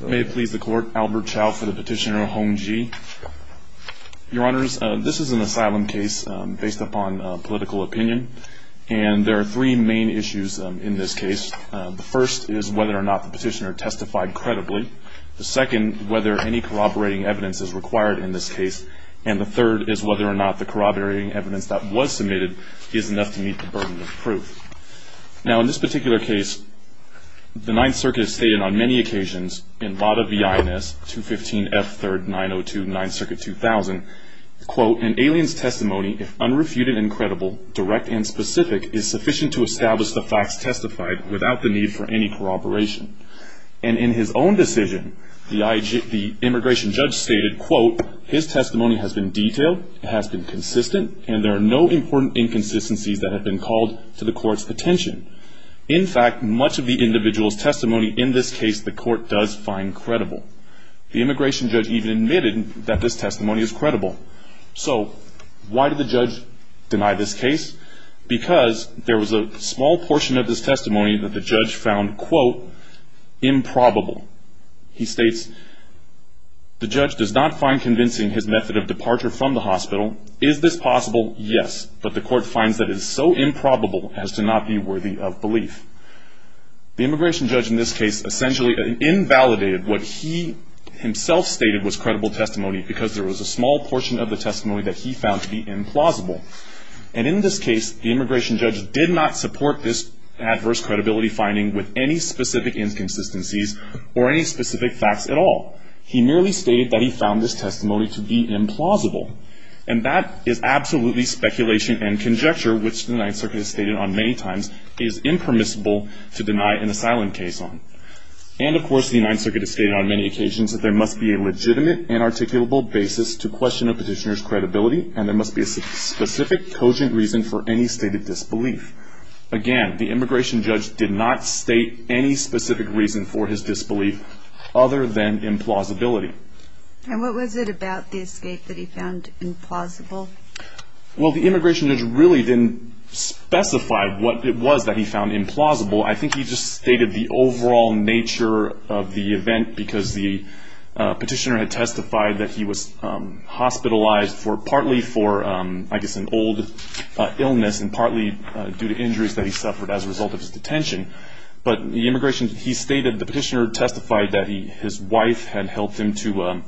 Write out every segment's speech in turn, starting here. May it please the Court, Albert Chow for the Petitioner, Hong Ji. Your Honors, this is an asylum case based upon political opinion, and there are three main issues in this case. The first is whether or not the Petitioner testified credibly. The second, whether any corroborating evidence is required in this case. And the third is whether or not the corroborating evidence that was submitted is enough to meet the burden of proof. Now, in this particular case, the Ninth Circuit has stated on many occasions, in Lada v. INS 215F3-902, 9th Circuit 2000, quote, an alien's testimony, if unrefuted and credible, direct and specific, is sufficient to establish the facts testified without the need for any corroboration. And in his own decision, the immigration judge stated, quote, his testimony has been detailed, has been consistent, and there are no important inconsistencies that have been called to the Court's attention. In fact, much of the individual's testimony in this case the Court does find credible. The immigration judge even admitted that this testimony is credible. So why did the judge deny this case? Because there was a small portion of his testimony that the judge found, quote, improbable. He states, the judge does not find convincing his method of departure from the hospital. Is this possible? Yes. But the Court finds that it is so improbable as to not be worthy of belief. The immigration judge in this case essentially invalidated what he himself stated was credible testimony because there was a small portion of the testimony that he found to be implausible. And in this case, the immigration judge did not support this adverse credibility finding with any specific inconsistencies or any specific facts at all. He merely stated that he found this testimony to be implausible. And that is absolutely speculation and conjecture, which the Ninth Circuit has stated on many times is impermissible to deny an asylum case on. And, of course, the Ninth Circuit has stated on many occasions that there must be a legitimate and articulable basis to question a petitioner's credibility, and there must be a specific, cogent reason for any stated disbelief. Again, the immigration judge did not state any specific reason for his disbelief other than implausibility. And what was it about the escape that he found implausible? Well, the immigration judge really didn't specify what it was that he found implausible. I think he just stated the overall nature of the event because the petitioner had testified that he was hospitalized partly for, I guess, an old illness and partly due to injuries that he suffered as a result of his detention. But the petitioner testified that his wife had helped him to,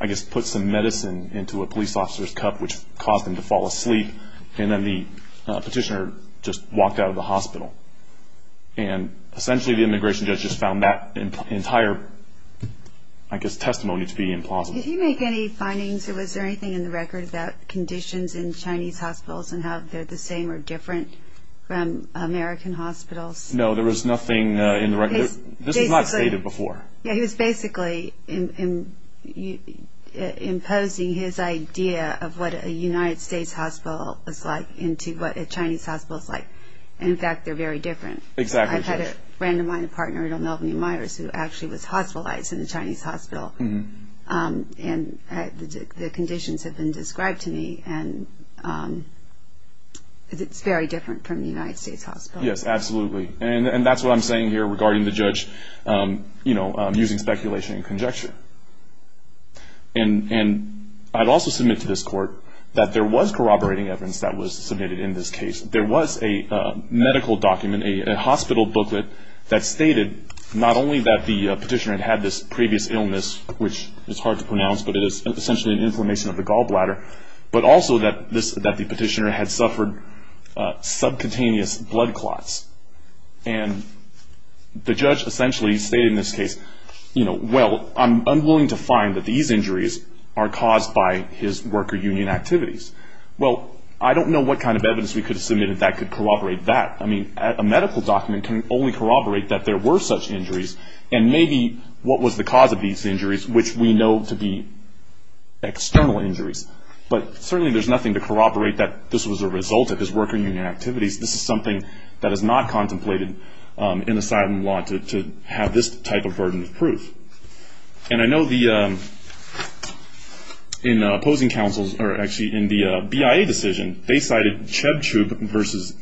I guess, put some medicine into a police officer's cup, which caused him to fall asleep, and then the petitioner just walked out of the hospital. And essentially the immigration judge just found that entire, I guess, testimony to be implausible. Did he make any findings, or was there anything in the record, about conditions in Chinese hospitals and how they're the same or different from American hospitals? No, there was nothing in the record. This was not stated before. Yeah, he was basically imposing his idea of what a United States hospital is like into what a Chinese hospital is like. And, in fact, they're very different. Exactly. I've had a friend of mine, a partner, Edel Melvin Meyers, who actually was hospitalized in a Chinese hospital, and the conditions have been described to me, and it's very different from the United States hospital. Yes, absolutely. And that's what I'm saying here regarding the judge using speculation and conjecture. And I'd also submit to this court that there was corroborating evidence that was submitted in this case. There was a medical document, a hospital booklet, that stated not only that the petitioner had had this previous illness, which is hard to pronounce, but it is essentially an inflammation of the gallbladder, but also that the petitioner had suffered subcutaneous blood clots. And the judge essentially stated in this case, you know, well, I'm willing to find that these injuries are caused by his worker union activities. Well, I don't know what kind of evidence we could submit that could corroborate that. I mean, a medical document can only corroborate that there were such injuries, and maybe what was the cause of these injuries, which we know to be external injuries. But certainly there's nothing to corroborate that this was a result of his worker union activities. This is something that is not contemplated in asylum law to have this type of burden of proof. And I know the opposing counsels, or actually in the BIA decision, they cited Chebchuk v.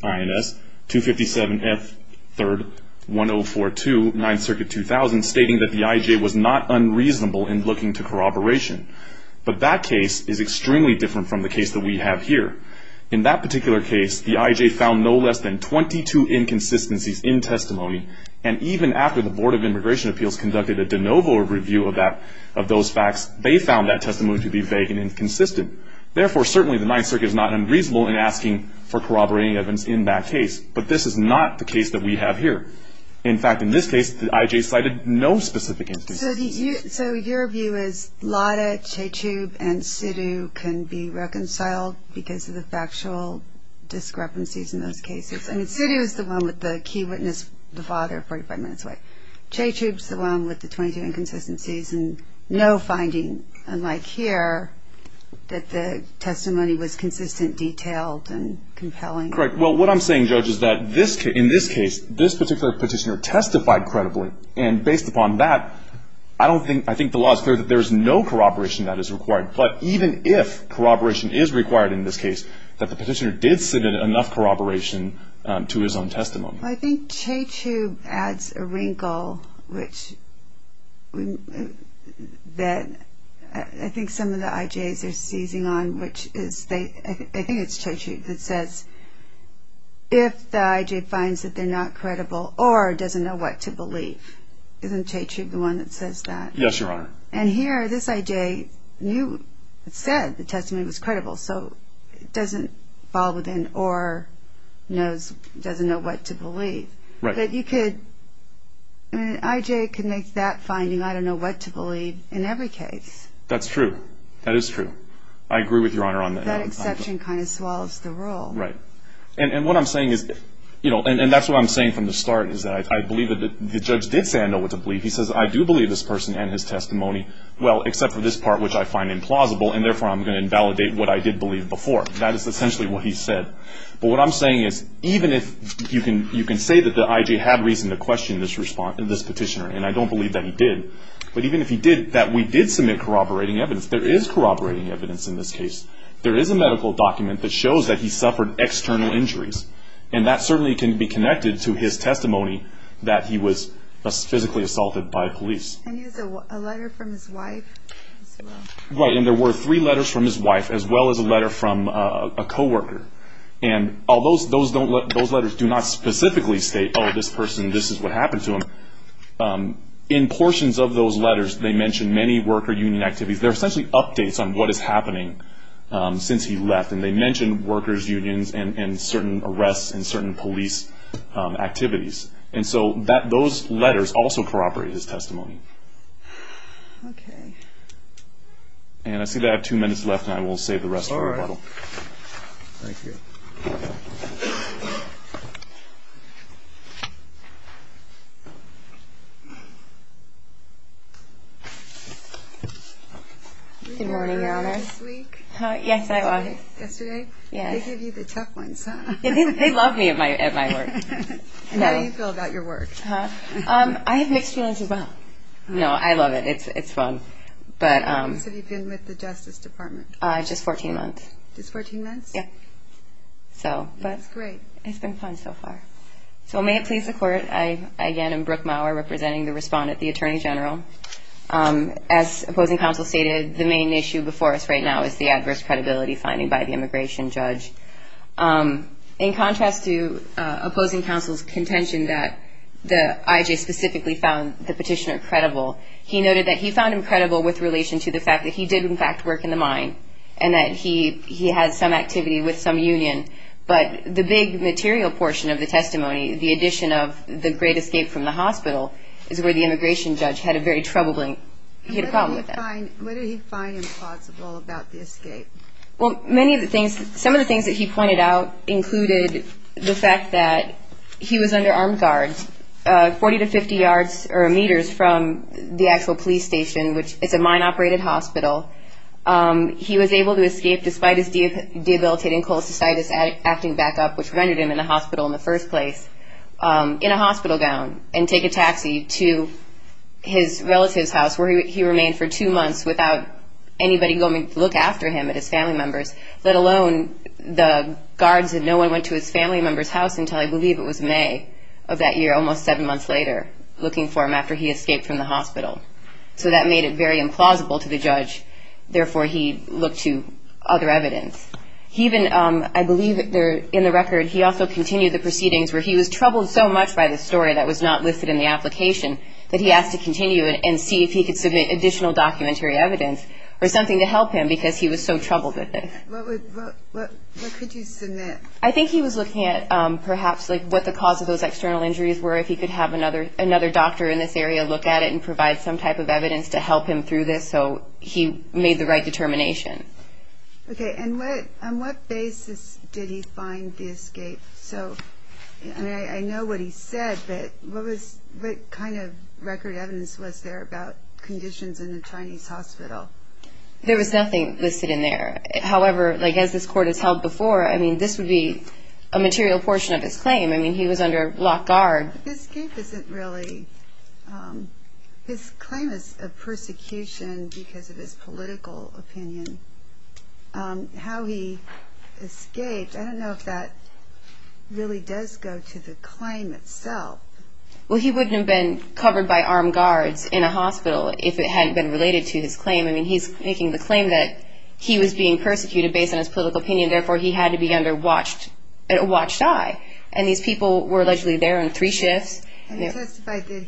INS, 257F3-1042, 9th Circuit 2000, stating that the IJ was not unreasonable in looking to corroboration. But that case is extremely different from the case that we have here. In that particular case, the IJ found no less than 22 inconsistencies in testimony, and even after the Board of Immigration Appeals conducted a de novo review of those facts, they found that testimony to be vague and inconsistent. Therefore, certainly the 9th Circuit is not unreasonable in asking for corroborating evidence in that case. But this is not the case that we have here. In fact, in this case, the IJ cited no specific inconsistencies. So your view is Lada, Chebchuk, and Sidhu can be reconciled because of the factual discrepancies in those cases? I mean, Sidhu is the one with the key witness, the father, 45 minutes away. Chebchuk is the one with the 22 inconsistencies, and no finding, unlike here, that the testimony was consistent, detailed, and compelling. Correct. Well, what I'm saying, Judge, is that in this case, this particular petitioner testified credibly. And based upon that, I think the law is clear that there is no corroboration that is required. But even if corroboration is required in this case, that the petitioner did submit enough corroboration to his own testimony. Well, I think Chebchuk adds a wrinkle, which I think some of the IJs are seizing on, which is they – I think it's Chebchuk that says, if the IJ finds that they're not credible, or doesn't know what to believe. Isn't Chebchuk the one that says that? Yes, Your Honor. And here, this IJ said the testimony was credible, so it doesn't fall within or doesn't know what to believe. Right. But you could – an IJ could make that finding, I don't know what to believe, in every case. That's true. That is true. I agree with Your Honor on that. That exception kind of swallows the role. Right. And what I'm saying is – and that's what I'm saying from the start, is that I believe that the judge did say I know what to believe. He says, I do believe this person and his testimony. Well, except for this part, which I find implausible, and therefore I'm going to invalidate what I did believe before. That is essentially what he said. But what I'm saying is, even if you can say that the IJ had reason to question this petitioner, and I don't believe that he did, but even if he did, that we did submit corroborating evidence – there is corroborating evidence in this case. There is a medical document that shows that he suffered external injuries, and that certainly can be connected to his testimony that he was physically assaulted by police. And he has a letter from his wife as well. Right. And there were three letters from his wife as well as a letter from a coworker. And although those letters do not specifically state, oh, this person, this is what happened to him, in portions of those letters they mention many worker union activities. They're essentially updates on what is happening since he left. And they mention workers' unions and certain arrests and certain police activities. And so those letters also corroborate his testimony. Okay. And I see that I have two minutes left, and I will save the rest for a rebuttal. All right. Thank you. Good morning, Your Honor. How are you this week? Yes, I was. Yesterday? Yes. They gave you the tough ones, huh? They love me at my work. And how do you feel about your work? I have mixed feelings as well. No, I love it. It's fun. How long have you been with the Justice Department? Just 14 months. Just 14 months? Yeah. That's great. It's been fun so far. So may it please the Court, I again am Brooke Maurer, representing the respondent, the Attorney General. As Opposing Counsel stated, the main issue before us right now is the adverse credibility finding by the immigration judge. In contrast to Opposing Counsel's contention that I.J. specifically found the petitioner credible, he noted that he found him credible with relation to the fact that he did, in fact, work in the mine and that he had some activity with some union. But the big material portion of the testimony, the addition of the great escape from the hospital, is where the immigration judge had a very troubling, he had a problem with that. What did he find impossible about the escape? Well, many of the things, some of the things that he pointed out included the fact that he was under armed guards, 40 to 50 yards or meters from the actual police station, which is a mine-operated hospital. He was able to escape despite his debilitating cholecystitis acting back up, which rendered him in the hospital in the first place, in a hospital gown and take a taxi to his relative's house where he remained for two months without anybody going to look after him and his family members, let alone the guards. And no one went to his family member's house until I believe it was May of that year, almost seven months later, looking for him after he escaped from the hospital. So that made it very implausible to the judge. Therefore, he looked to other evidence. He even, I believe in the record, he also continued the proceedings where he was troubled so much by the story that was not listed in the application that he asked to continue it and see if he could submit additional documentary evidence or something to help him because he was so troubled with it. What could you submit? I think he was looking at perhaps like what the cause of those external injuries were, if he could have another doctor in this area look at it and provide some type of evidence to help him through this so he made the right determination. Okay, and on what basis did he find the escape? So I know what he said, but what kind of record evidence was there about conditions in a Chinese hospital? There was nothing listed in there. However, as this court has held before, I mean, this would be a material portion of his claim. I mean, he was under lock, guard. His escape isn't really, his claim is a persecution because of his political opinion. How he escaped, I don't know if that really does go to the claim itself. Well, he wouldn't have been covered by armed guards in a hospital if it hadn't been related to his claim. I mean, he's making the claim that he was being persecuted based on his political opinion, and therefore he had to be under watched eye, and these people were allegedly there on three shifts. And he testified that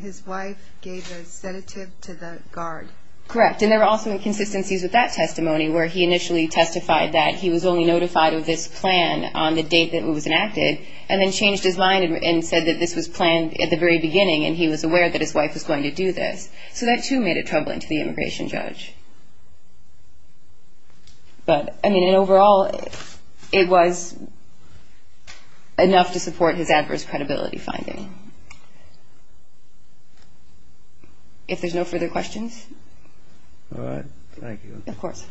his wife gave a sedative to the guard. Correct, and there were also inconsistencies with that testimony, where he initially testified that he was only notified of this plan on the date that it was enacted, and then changed his mind and said that this was planned at the very beginning and he was aware that his wife was going to do this. So that, too, made it troubling to the immigration judge. But, I mean, overall, it was enough to support his adverse credibility finding. If there's no further questions. All right. Thank you. Of course.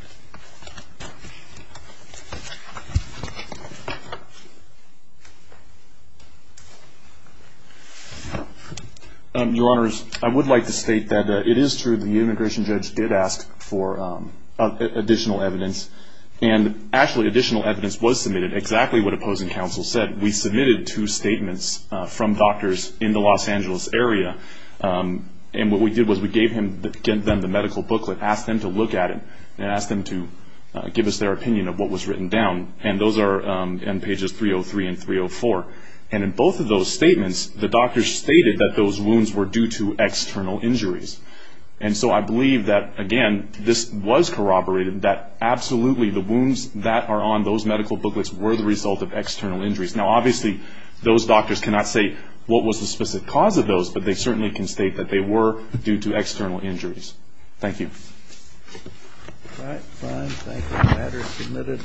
Your Honors, I would like to state that it is true that the immigration judge did ask for additional evidence, and actually additional evidence was submitted, exactly what opposing counsel said. We submitted two statements from doctors in the Los Angeles area, and what we did was we gave them the medical booklet, asked them to look at it, and asked them to give us their opinion of what was written down. And those are in pages 303 and 304. And in both of those statements, the doctors stated that those wounds were due to external injuries. And so I believe that, again, this was corroborated, that absolutely the wounds that are on those medical booklets were the result of external injuries. Now, obviously, those doctors cannot say what was the specific cause of those, but they certainly can state that they were due to external injuries. Thank you. All right. Fine. Thank you. The matter is submitted.